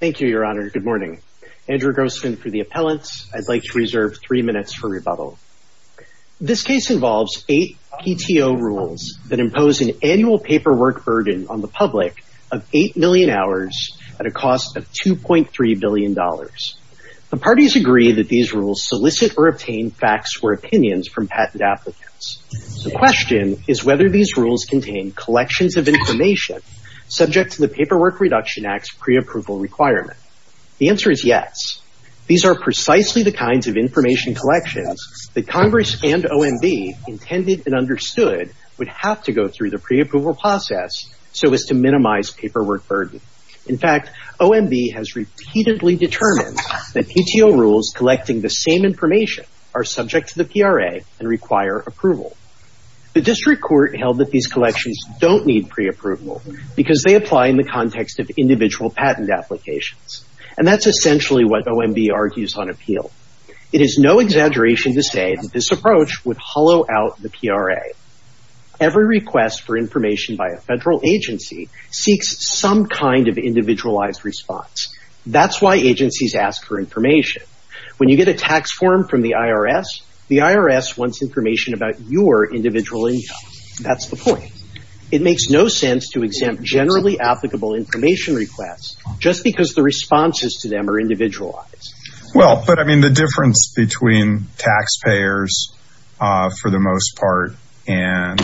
Thank you, Your Honor. Good morning. Andrew Grossman for the appellant. I'd like to reserve three minutes for rebuttal. This case involves eight PTO rules that impose an annual paperwork burden on the public of eight million hours at a cost of 2.3 billion dollars. The parties agree that these rules solicit or obtain facts or opinions from patent applicants. The question is whether these rules contain collections of information subject to the Paperwork Reduction Act's pre-approval requirement. The answer is yes. These are precisely the kinds of information collections that Congress and OMB intended and understood would have to go through the pre-approval process so as to minimize paperwork burden. In fact, OMB has repeatedly determined that PTO rules collecting the same information are subject to the PRA and require approval. The district court held that these collections don't need pre-approval because they apply in the context of individual patent applications. And that's essentially what OMB argues on appeal. It is no exaggeration to say that this approach would hollow out the PRA. Every request for information by a federal agency seeks some kind of individualized response. That's why agencies ask for information. When you get a tax form from the IRS, the IRS wants information about your individual income. That's the point. It makes no sense to exempt generally applicable information requests just because the responses to them are individualized. Well, but I mean the difference between taxpayers for the most part and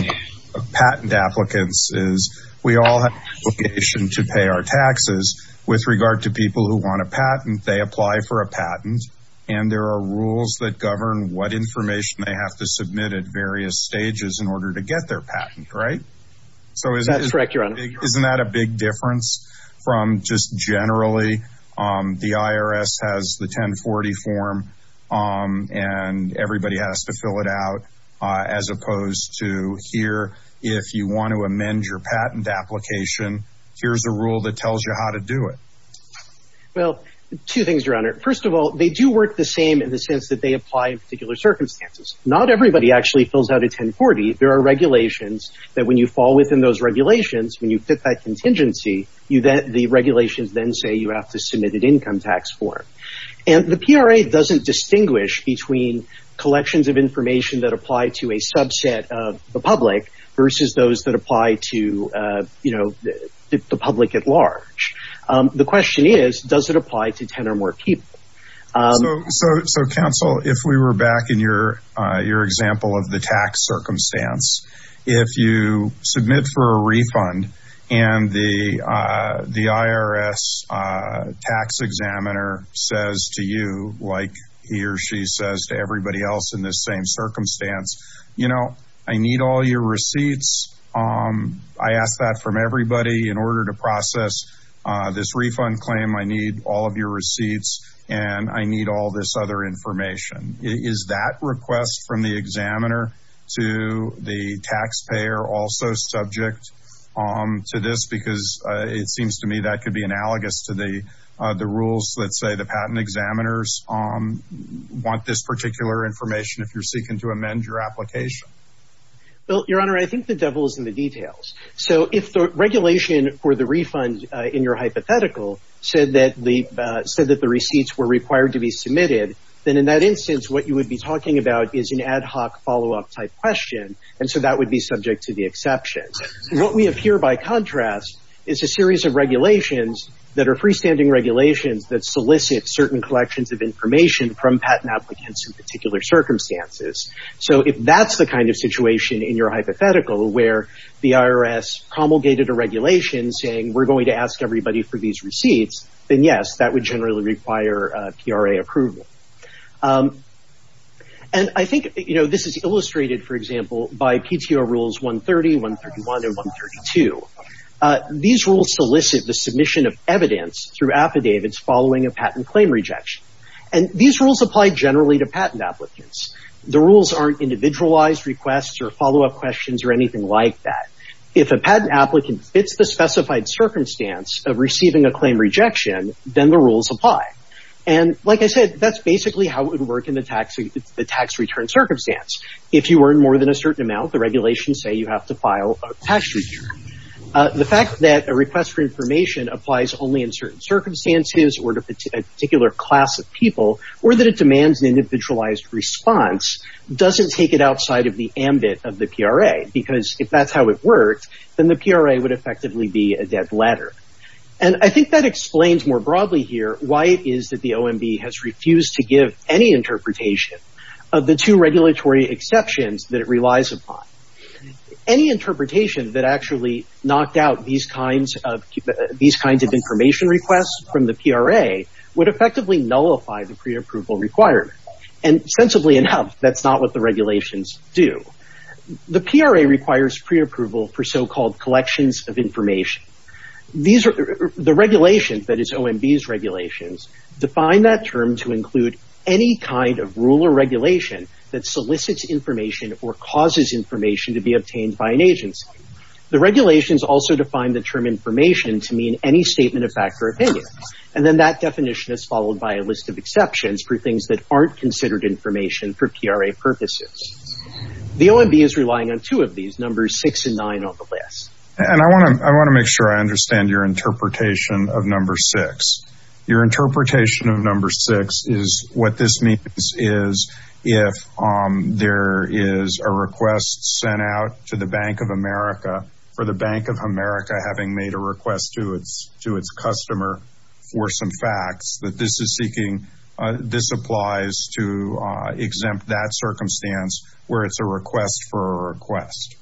patent applicants is we all have an obligation to pay our taxes. With regard to people who want a patent, they apply for a patent and there are rules that govern what information they have to submit at various stages in order to get their patent, right? That's correct, your honor. Isn't that a big difference from just generally the IRS has the 1040 form and everybody has to fill it out as opposed to here if you want to amend your patent application, here's a rule that tells you how to do it. Well, two things, your honor. First of all, they do work the same in the sense that they actually fill out a 1040. There are regulations that when you fall within those regulations, when you fit that contingency, the regulations then say you have to submit an income tax form. The PRA doesn't distinguish between collections of information that apply to a subset of the public versus those that apply to the public at large. The question is, does it apply to 10 or more people? So, counsel, if we were back in your example of the tax circumstance, if you submit for a refund and the IRS tax examiner says to you like he or she says to everybody else in this same circumstance, you know, I need all your receipts. I ask that from everybody in order to process this refund claim. I need all of your receipts and I need all this other information. Is that request from the examiner to the taxpayer also subject to this? Because it seems to me that could be analogous to the rules that say the patent examiners want this particular information if you're seeking to amend your application. Well, your honor, I think the devil is in the details. So if the regulation for the refund in your hypothetical said that the receipts were required to be submitted, then in that instance what you would be talking about is an ad hoc follow up type question and so that would be subject to the exceptions. What we have here by contrast is a series of regulations that are freestanding regulations that solicit certain collections of information from patent applicants in particular circumstances. So if that's the kind of situation in your hypothetical where the IRS promulgated a regulation saying we're going to ask everybody for these receipts, then yes, that would generally require PRA approval. I think this is illustrated, for example, by PTO rules 130, 131, and 132. These rules solicit the submission of evidence through affidavits following a patent claim rejection. These rules apply generally to patent applicants. The rules aren't individualized requests or follow up questions or anything like that. If a patent applicant fits the specified circumstance of receiving a claim rejection, then the rules apply. Like I said, that's basically how it would work in the tax return circumstance. If you earn more than a certain amount, the regulations say you have to file a tax return. The fact that a request for information applies only in certain circumstances or to a particular class of people or that it demands an individualized response doesn't take it outside of the ambit of the PRA because if that's how it works, then the PRA would effectively be a dead ladder. I think that explains more broadly here why it is that the OMB has refused to give any interpretation of the two regulatory exceptions that it relies upon. Any interpretation that actually knocked out these kinds of information requests from the PRA would effectively nullify the preapproval requirement. Sensibly enough, that's not what the regulations do. The PRA requires preapproval for so-called collections of information. The regulations, that is OMB's regulations, define that term to include any kind of rule or regulation that solicits information or causes information to be obtained by an agency. The regulations also define the term information to mean any statement of fact or opinion. Then that definition is followed by a list of exceptions for things that aren't considered information for PRA purposes. The OMB is relying on two of these, numbers six and nine on the list. I want to make sure I understand your interpretation of number six. Your interpretation of number six is what this means is if there is a request sent out to the Bank of America for the Bank of America having made a request to its customer for some facts that this is seeking, this applies to exempt that circumstance where it's a request for a request.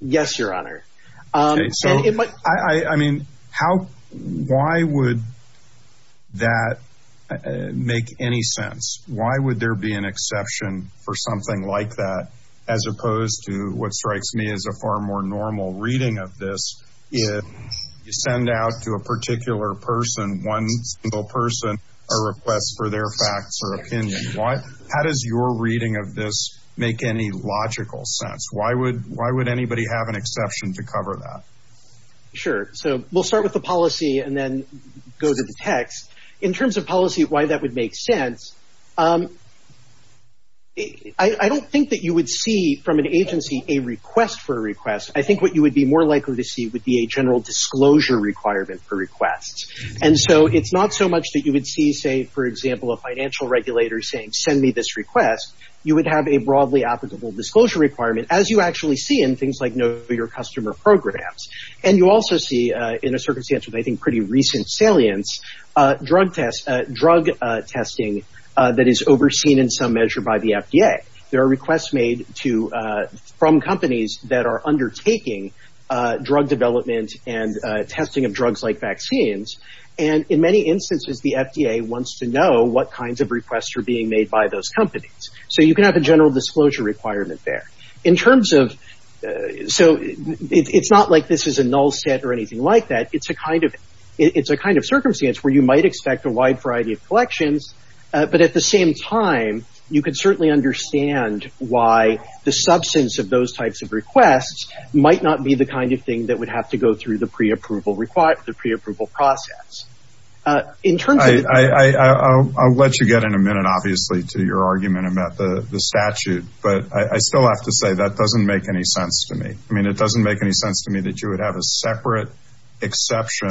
Yes, your honor. I mean, how, why would that make any sense? Why would there be an exception for something like that as opposed to what strikes me as a far more normal reading of this? If you send out to a particular person, one single person, a request for their facts or opinion, how does your reading of this make any logical sense? Why would anybody have an exception to cover that? Sure. We'll start with the policy and then go to the text. In terms of policy, why that would make sense, I don't think that you would see from an agency a request for a request. I think what you would be more likely to see would be a general disclosure requirement for requests. It's not so much that you would see, say, for example, a financial regulator saying, send me this request. You would have a broadly applicable disclosure requirement as you actually see in things like know your customer programs. And you also see in a circumstance with I think pretty recent salience, drug testing that is overseen in some measure by the FDA. There are requests made to, from companies that are undertaking drug development and testing of drugs like vaccines. And in many instances, the FDA wants to know what kinds of requests are being made by those companies. So you can have a general disclosure requirement there. So it's not like this is a null set or anything like that. It's a kind of circumstance where you might expect a wide variety of collections. But at the same time, you could certainly understand why the substance of those types of requests might not be the kind of thing that would have to go the preapproval process. I'll let you get in a minute, obviously, to your argument about the statute. But I still have to say that doesn't make any sense to me. I mean, it doesn't make any sense to me that you would have a separate exception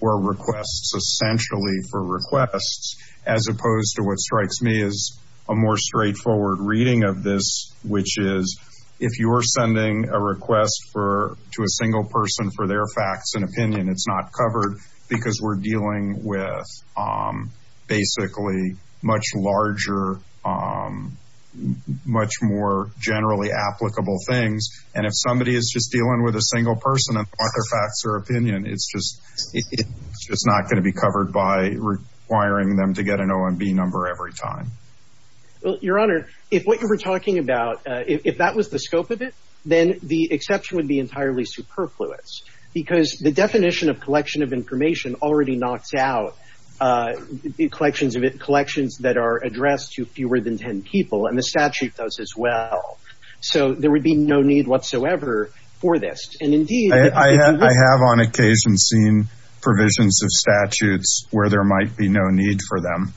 for requests, essentially for requests, as opposed to what strikes me as a more straightforward reading of this, which is if you're sending a request to a single person for their facts and opinion, it's not covered because we're dealing with basically much larger, much more generally applicable things. And if somebody is just dealing with a single person and their facts or opinion, it's just not going to be covered by requiring them to get an OMB number every time. Well, your honor, if what the scope of it, then the exception would be entirely superfluous, because the definition of collection of information already knocks out the collections of collections that are addressed to fewer than 10 people and the statute does as well. So there would be no need whatsoever for this. And indeed, I have on occasion seen provisions of statutes where there might be no need for them,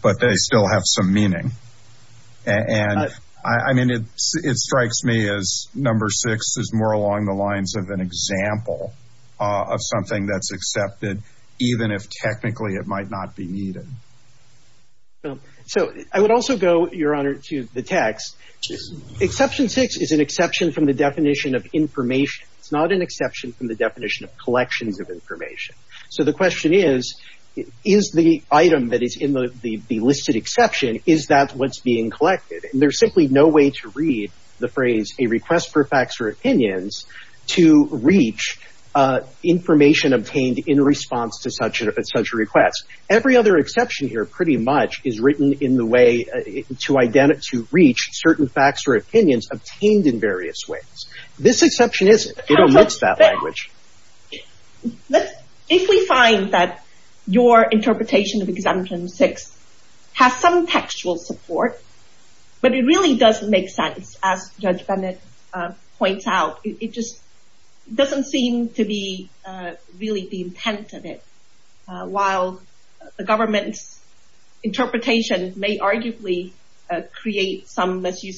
but they still have some meaning. And I mean, it strikes me as number six is more along the lines of an example of something that's accepted, even if technically it might not be needed. So I would also go, your honor, to the text. Exception six is an exception from the definition of information. It's not an exception from the definition of collections of information. So the question is, is the item that is in the listed exception, is that what's being collected? And there's simply no way to read the phrase, a request for facts or opinions to reach information obtained in response to such a request. Every other exception here pretty much is written in the way to reach certain facts or opinions obtained in various ways. This exception isn't. It omits that language. If we find that your interpretation of exemption six has some textual support, but it really doesn't make sense, as Judge Bennett points out, it just doesn't seem to be really the intent of it. While the government's interpretation may arguably create some, as you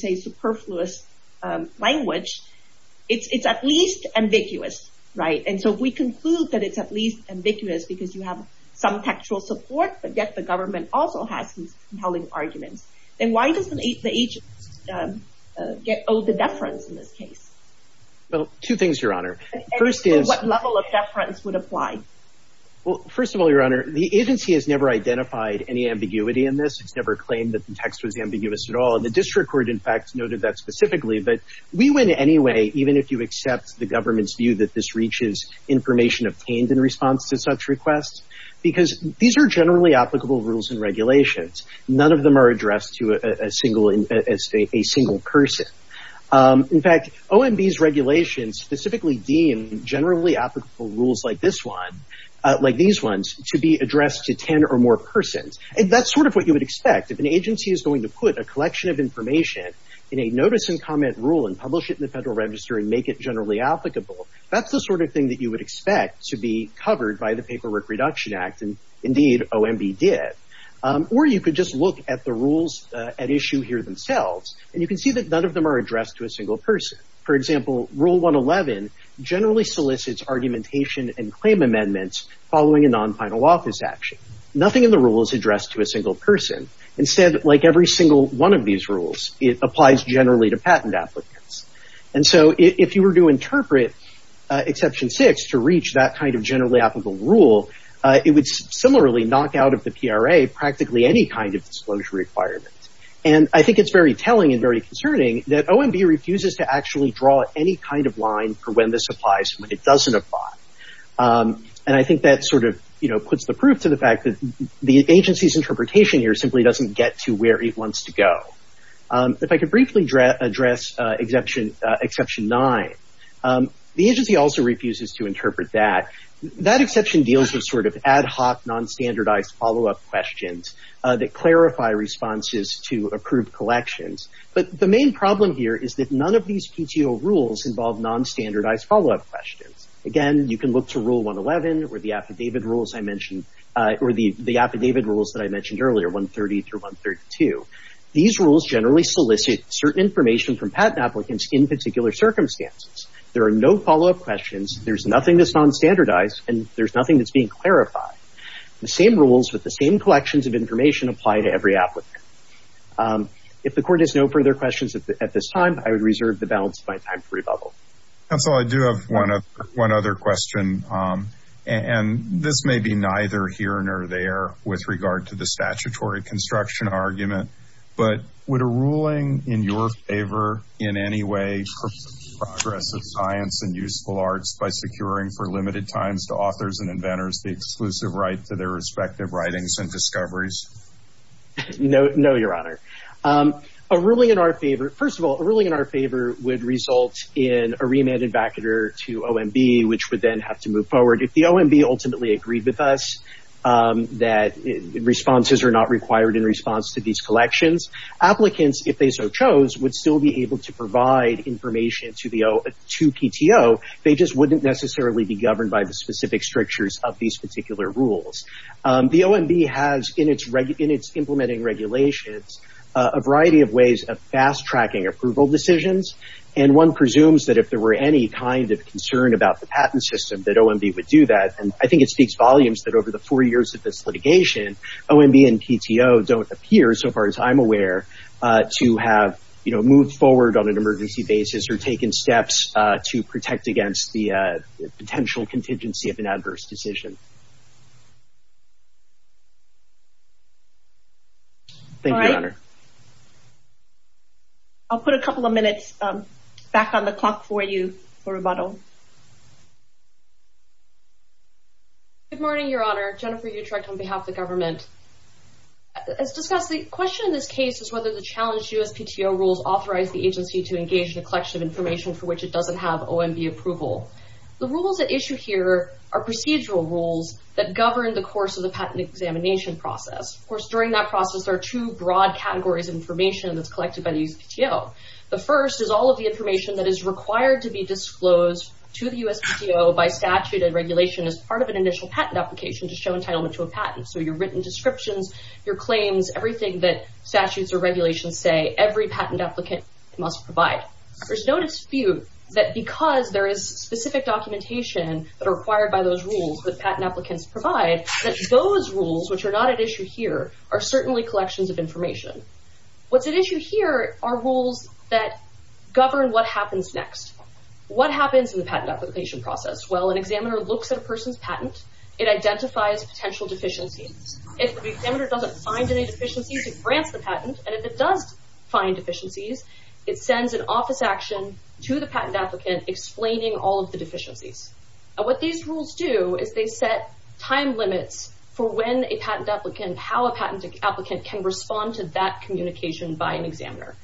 It's at least ambiguous, right? And so if we conclude that it's at least ambiguous because you have some textual support, but yet the government also has compelling arguments, then why doesn't the agent get all the deference in this case? Well, two things, your honor. What level of deference would apply? Well, first of all, your honor, the agency has never identified any ambiguity in this. It's never claimed that the text was ambiguous at all. And the district court, in fact, noted that specifically. But we went anyway, even if you accept the government's view that this reaches information obtained in response to such requests, because these are generally applicable rules and regulations. None of them are addressed to a single person. In fact, OMB's regulations specifically deem generally applicable rules like this one, like these ones, to be addressed to 10 or more persons. And that's sort of what you would expect. If an agency is put a collection of information in a notice and comment rule and publish it in the Federal Register and make it generally applicable, that's the sort of thing that you would expect to be covered by the Paperwork Reduction Act. And indeed, OMB did. Or you could just look at the rules at issue here themselves, and you can see that none of them are addressed to a single person. For example, Rule 111 generally solicits argumentation and claim amendments following a non-final office action. Nothing in the rule is addressed to a single person. Instead, like single one of these rules, it applies generally to patent applicants. And so if you were to interpret Exception 6 to reach that kind of generally applicable rule, it would similarly knock out of the PRA practically any kind of disclosure requirement. And I think it's very telling and very concerning that OMB refuses to actually draw any kind of line for when this applies and when it doesn't apply. And I think that sort of puts the proof to the fact that the agency's interpretation here simply doesn't get to where it wants to go. If I could briefly address Exception 9, the agency also refuses to interpret that. That exception deals with sort of ad hoc, non-standardized follow-up questions that clarify responses to approved collections. But the main problem here is that none of these PTO rules involve non-standardized follow-up questions. Again, you can look to Rule 111 or the affidavit rules that I mentioned earlier, 130 through 132. These rules generally solicit certain information from patent applicants in particular circumstances. There are no follow-up questions, there's nothing that's non-standardized, and there's nothing that's being clarified. The same rules with the same collections of information apply to every applicant. If the Court has no further questions at this time, I would reserve the balance of my time for this question. And this may be neither here nor there with regard to the statutory construction argument, but would a ruling in your favor in any way progress the science and useful arts by securing for limited times to authors and inventors the exclusive right to their respective writings and discoveries? No, Your Honor. A ruling in our favor, first of all, a ruling in our favor would result in a remanded vacatur to OMB, which would then have to move forward. If the OMB ultimately agreed with us that responses are not required in response to these collections, applicants, if they so chose, would still be able to provide information to PTO. They just wouldn't necessarily be governed by the specific strictures of these particular rules. The OMB has in its implementing regulations a variety of ways of fast-tracking approval decisions, and one presumes that if there were any kind of concern about the patent system that OMB would do that. I think it speaks volumes that over the four years of this litigation, OMB and PTO don't appear, so far as I'm aware, to have moved forward on an emergency basis or taken steps to protect against the potential contingency of an adverse decision. Thank you, Your Honor. I'll put a couple of minutes back on the clock for you for rebuttal. Good morning, Your Honor. Jennifer Utrecht on behalf of the government. As discussed, the question in this case is whether the challenged USPTO rules authorize the agency to engage in a collection of information for which it doesn't have OMB approval. The rules at issue here are procedural rules that govern the course of the patent examination process. Of course, there are two broad categories of information that's collected by the USPTO. The first is all of the information that is required to be disclosed to the USPTO by statute and regulation as part of an initial patent application to show entitlement to a patent. Your written descriptions, your claims, everything that statutes or regulations say, every patent applicant must provide. There's no dispute that because there is specific documentation that are required by those rules that patent applicants provide that those rules, which are not at issue here, are certainly collections of information. What's at issue here are rules that govern what happens next. What happens in the patent application process? Well, an examiner looks at a person's patent. It identifies potential deficiencies. If the examiner doesn't find any deficiencies, he grants the patent. If it does find deficiencies, it sends an office action to the patent applicant explaining all of the deficiencies. What these rules do is they set time limits for when a patent applicant, how a patent applicant can respond to that communication by an examiner.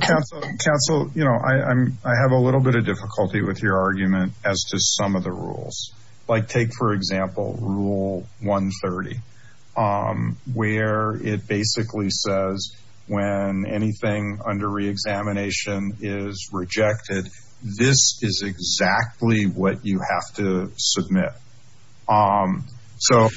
Council, you know, I have a little bit of difficulty with your argument as to some of the rules. Like take, for example, rule 130, where it basically says when anything under re-examination is rejected, this is exactly what you have to submit. So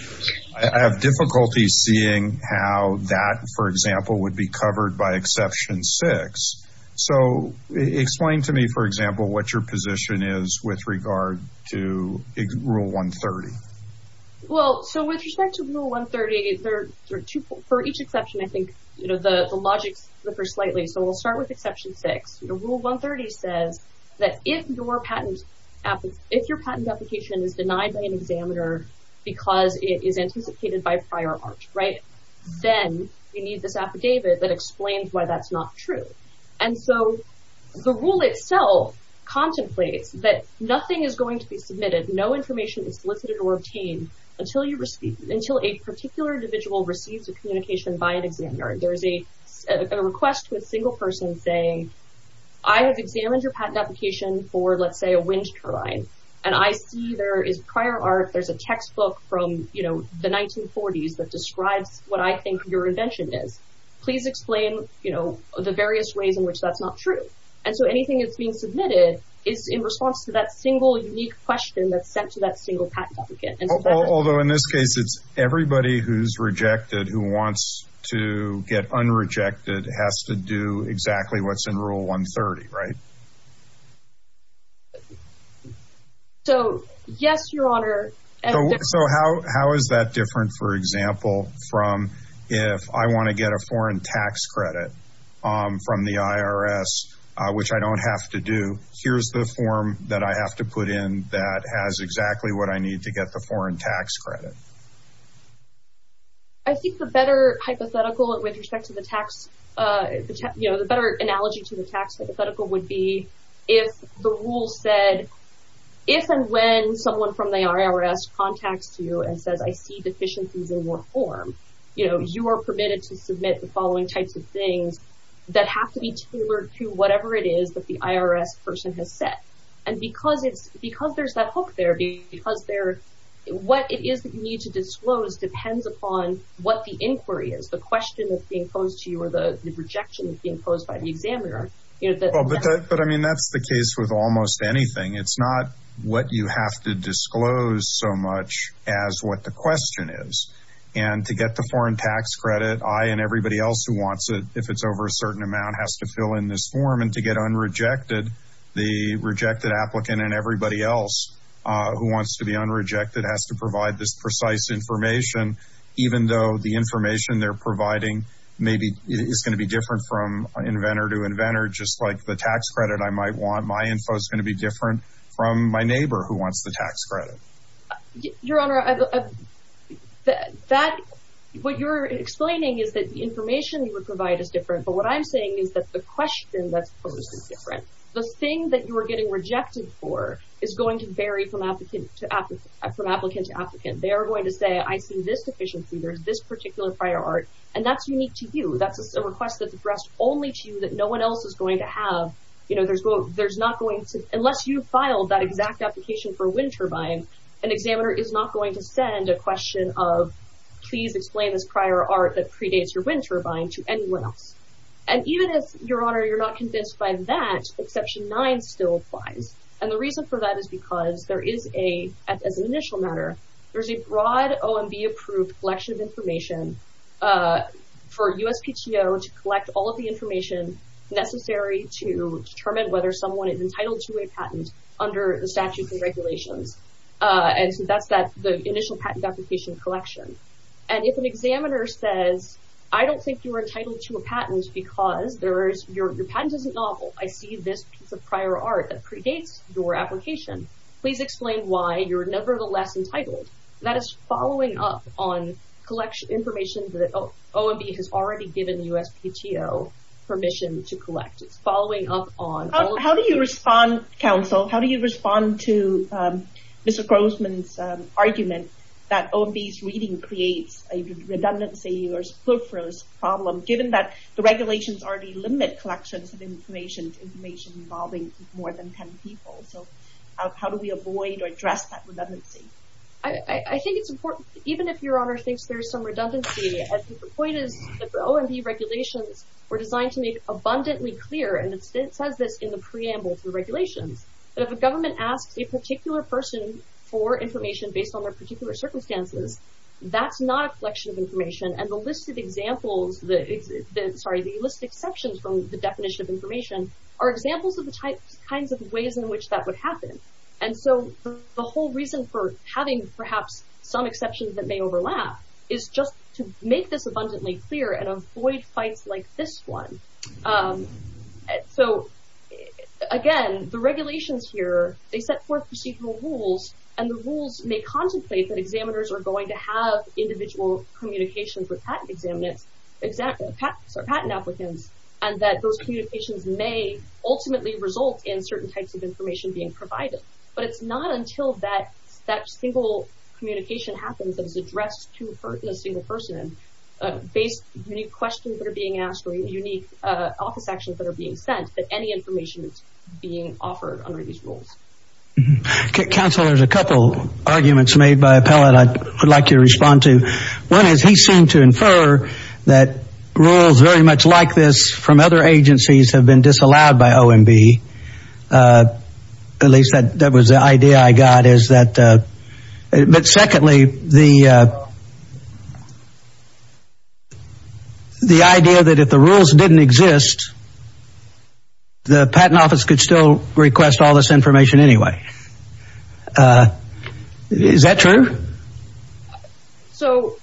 I have difficulty seeing how that, for example, would be covered by exception six. So explain to me, for example, what your position is with regard to rule 130. Well, so with respect to rule 130, there are two, for each exception, I think, you know, the logics differ slightly. So we'll start with exception six. Rule 130 says that if your patent application is denied by an examiner because it is anticipated by prior art, right, then you need this affidavit that explains why that's not true. And so the rule itself contemplates that nothing is going to be submitted, no information is solicited or obtained until a particular individual receives a communication by an examiner. There's a request with a single person saying, I have examined your patent application for, let's say, a wind turbine, and I see there is prior art, there's a textbook from, you know, the 1940s that describes what I think your invention is. Please explain, you know, the various ways in which that's not true. And so anything that's being submitted is in response to that single, unique question that's sent to that single patent applicant. Although in this case, it's everybody who's rejected who wants to get unrejected has to do exactly what's in rule 130, right? So, yes, your honor. So how is that different, for example, from if I want to get a foreign tax credit from the IRS, which I don't have to do, here's the form that I have to put in that has exactly what I need to get the foreign tax credit. I think the better hypothetical with respect to the tax, you know, the better analogy to the tax hypothetical would be if the rule said, if and when someone from the IRS contacts you and says, I see deficiencies in your form, you know, you are permitted to submit the following types of things that have to be tailored to whatever it is that the IRS person has set. And because there's that hook there, what it is that you need to disclose depends upon what the inquiry is, the question that's being posed to you or the rejection that's being posed by the examiner. But I mean, that's the case with almost anything. It's not what you have to disclose so much as what the question is. And to get the foreign tax credit, I and everybody else who wants it, if it's over a certain amount, has to fill in this form and to get unrejected, the rejected applicant and everybody else who wants to be unrejected has to provide this precise information, even though the information they're providing maybe is going to be different from inventor to inventor, just like the tax credit, I might want my info is going to be different from my neighbor who wants the tax credit. Your Honor, what you're explaining is that the information you would provide is different. But what I'm saying is that the question that's posed is different. The thing that you are getting rejected for is going to vary from applicant to applicant, from applicant to applicant, they are going to say, I see this deficiency, there's this particular prior art. And that's unique to you. That's a request that's addressed only to you that no one else is going to have, there's not going to, unless you filed that exact application for wind turbine, an examiner is not going to send a question of, please explain this prior art that predates your wind turbine to anyone else. And even if, Your Honor, you're not convinced by that, exception nine still applies. And the reason for that is because there is a, as an initial matter, there's a broad OMB approved collection of information for USPTO to collect all of the whether someone is entitled to a patent under the statutes and regulations. And so that's that, the initial patent application collection. And if an examiner says, I don't think you're entitled to a patent because there is, your patent isn't novel. I see this piece of prior art that predates your application. Please explain why you're nevertheless entitled. That is following up on collection information that OMB has already given USPTO permission to collect. It's following up on How do you respond, counsel? How do you respond to Mr. Grossman's argument that OMB's reading creates a redundancy or spoofers problem, given that the regulations already limit collections of information, information involving more than 10 people. So how do we avoid or address that redundancy? I think it's important, even if Your Honor thinks there's some redundancy, I think the point is that the OMB regulations were designed to make abundantly clear. And it says this in the preamble to the regulations, that if a government asks a particular person for information based on their particular circumstances, that's not a collection of information. And the list of examples, sorry, the list exceptions from the definition of information are examples of the types, kinds of ways in which that would happen. And so the whole reason for having perhaps some exceptions that may overlap is just to make this abundantly clear and avoid fights like this one. So again, the regulations here, they set forth procedural rules, and the rules may contemplate that examiners are going to have individual communications with patent examiners, patent applicants, and that those communications may ultimately result in certain types of information being provided. But it's not until that single communication happens that is addressed to a single person based on unique questions that are being asked or unique office actions that are being sent that any information is being offered under these rules. Counselor, there's a couple arguments made by Appellate I would like you to respond to. One is he seemed to infer that rules very much like this from other agencies have been disallowed by OMB. At least that was the idea I got. But secondly, the idea that if the rules didn't exist, the patent office could still request all this information anyway. Is that true? So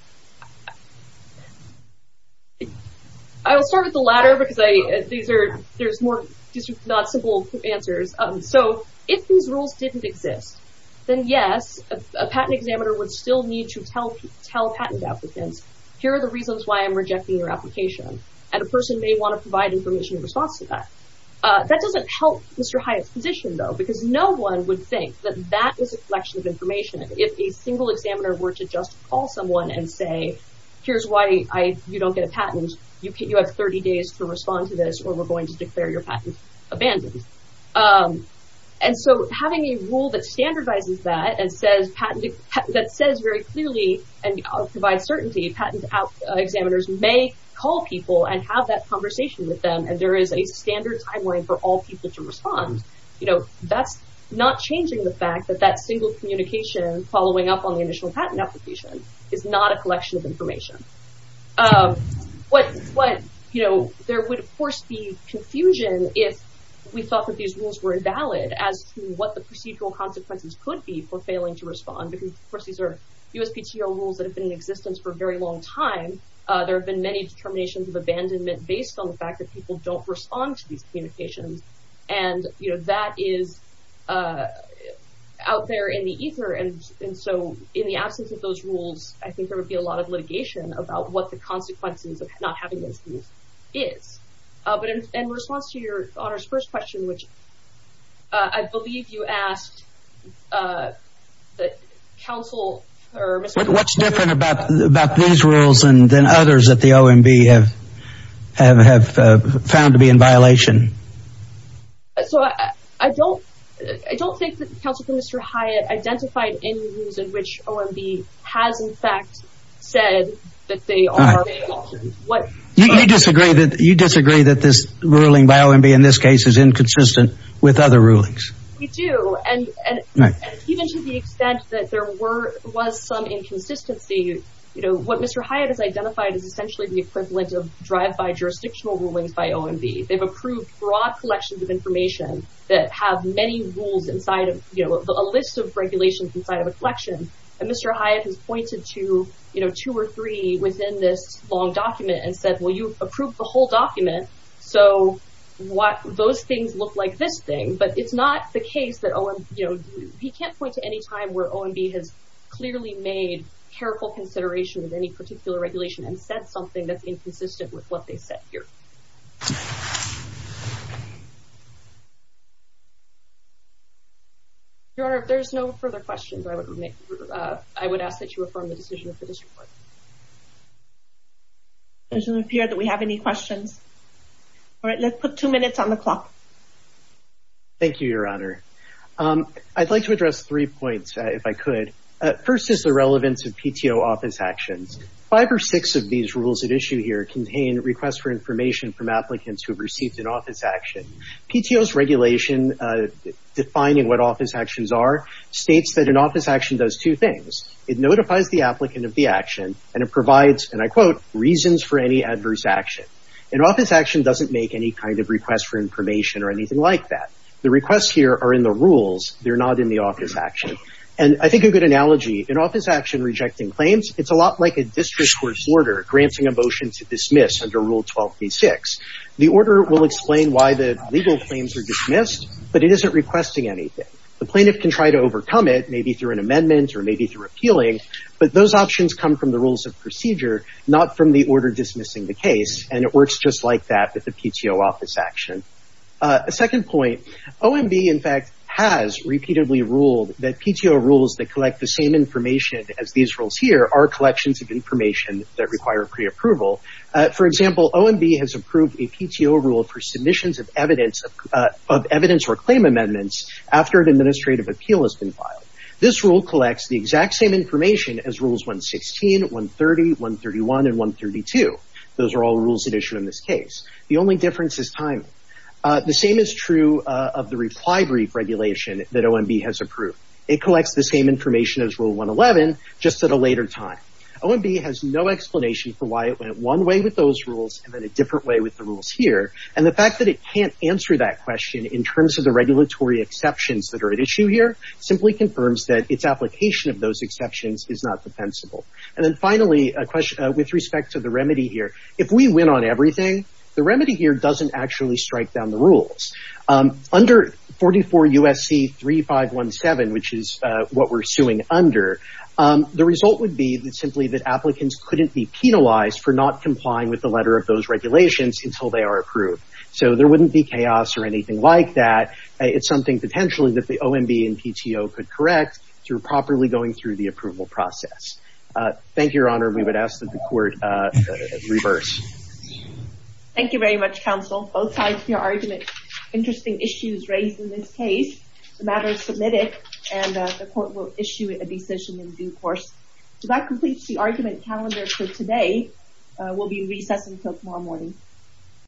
I will start with the latter because these are not simple answers. So if these rules didn't exist, then yes, a patent examiner would still need to tell patent applicants, here are the reasons why I'm rejecting your application. And a person may want to provide information in response to that. That doesn't help Mr. Hyatt's position though, because no one would think that that is a examiner were to just call someone and say, here's why you don't get a patent. You have 30 days to respond to this or we're going to declare your patent abandoned. And so having a rule that standardizes that and says patent that says very clearly and provides certainty patent examiners may call people and have that conversation with them. And there is a standard timeline for all people to respond. You know, that's not changing the fact that that single communication following up on the initial patent application is not a collection of information. What, you know, there would of course be confusion if we thought that these rules were invalid as to what the procedural consequences could be for failing to respond. Because of course, these are USPTO rules that have been in existence for a very long time. There have been many determinations of abandonment based on the fact that people don't respond to these communications. And you know, that is out there in the ether. And so in the absence of those rules, I think there would be a lot of litigation about what the consequences of not having those rules is. But in response to your honor's first question, which I believe you asked that counsel or what's different about about these rules and then others that the OMB have found to be in violation. So I don't think that counsel for Mr. Hyatt identified any reason which OMB has in fact said that they are what you disagree that you disagree that this ruling by OMB in this case is inconsistent with other rulings. We do. And even to the extent that there were was some inconsistency. You know, what Mr. Hyatt has identified is essentially the equivalent of drive by jurisdictional rulings by OMB. They've approved broad collections of information that have many rules inside of a list of regulations inside of a collection. And Mr. Hyatt has pointed to, you know, two or three within this long document and said, well, you approved the whole document. So what those things look like this thing. But it's not the case that he can't point to any time where OMB has clearly made careful consideration of any particular regulation and said something that's inconsistent with what they said here. Your Honor, if there's no further questions, I would make, I would ask that you affirm the decision of the district court. It doesn't appear that we have any questions. All right, let's put two minutes on the clock. Thank you, Your Honor. I'd like to address three points if I could. First is the relevance of PTO office actions. Five or six of these rules at issue here contain requests for information from applicants who have received an office action. PTO's regulation defining what office actions are states that an office action does two things. It notifies the applicant of the action and it provides, and I quote, reasons for any adverse action. An office action doesn't make any kind of request for information or anything like that. The requests here are in the rules. They're not in the office action. And I think a good analogy, an office action rejecting claims, it's a lot like a district court's order granting a motion to dismiss under Rule 1286. The order will explain why the legal claims are dismissed, but it isn't requesting anything. The plaintiff can try to overcome it, maybe through an amendment or maybe through appealing, but those options come from the rules of procedure, not from the order dismissing the case. And it works just like that with the PTO office action. A second point, OMB, in fact, has repeatedly ruled that PTO rules that collect the same information as these rules here are collections of information that require pre-approval. For example, OMB has approved a PTO rule for submissions of evidence or claim amendments after an administrative appeal has been filed. This rule collects the exact same The only difference is timing. The same is true of the reply brief regulation that OMB has approved. It collects the same information as Rule 111, just at a later time. OMB has no explanation for why it went one way with those rules and then a different way with the rules here. And the fact that it can't answer that question in terms of the regulatory exceptions that are at issue here simply confirms that its application of those exceptions is not defensible. And then finally, with respect to the remedy here, if we win on everything, the remedy here doesn't actually strike down the rules. Under 44 U.S.C. 3517, which is what we're suing under, the result would be simply that applicants couldn't be penalized for not complying with the letter of those regulations until they are approved. So there wouldn't be chaos or anything like that. It's something potentially that the OMB and PTO could correct through properly going through the approval process. Thank you, Your Reverse. Thank you very much, counsel. Both sides of your argument, interesting issues raised in this case. The matter is submitted and the court will issue a decision in due course. So that completes the argument calendar for today. We'll be recessing until tomorrow morning.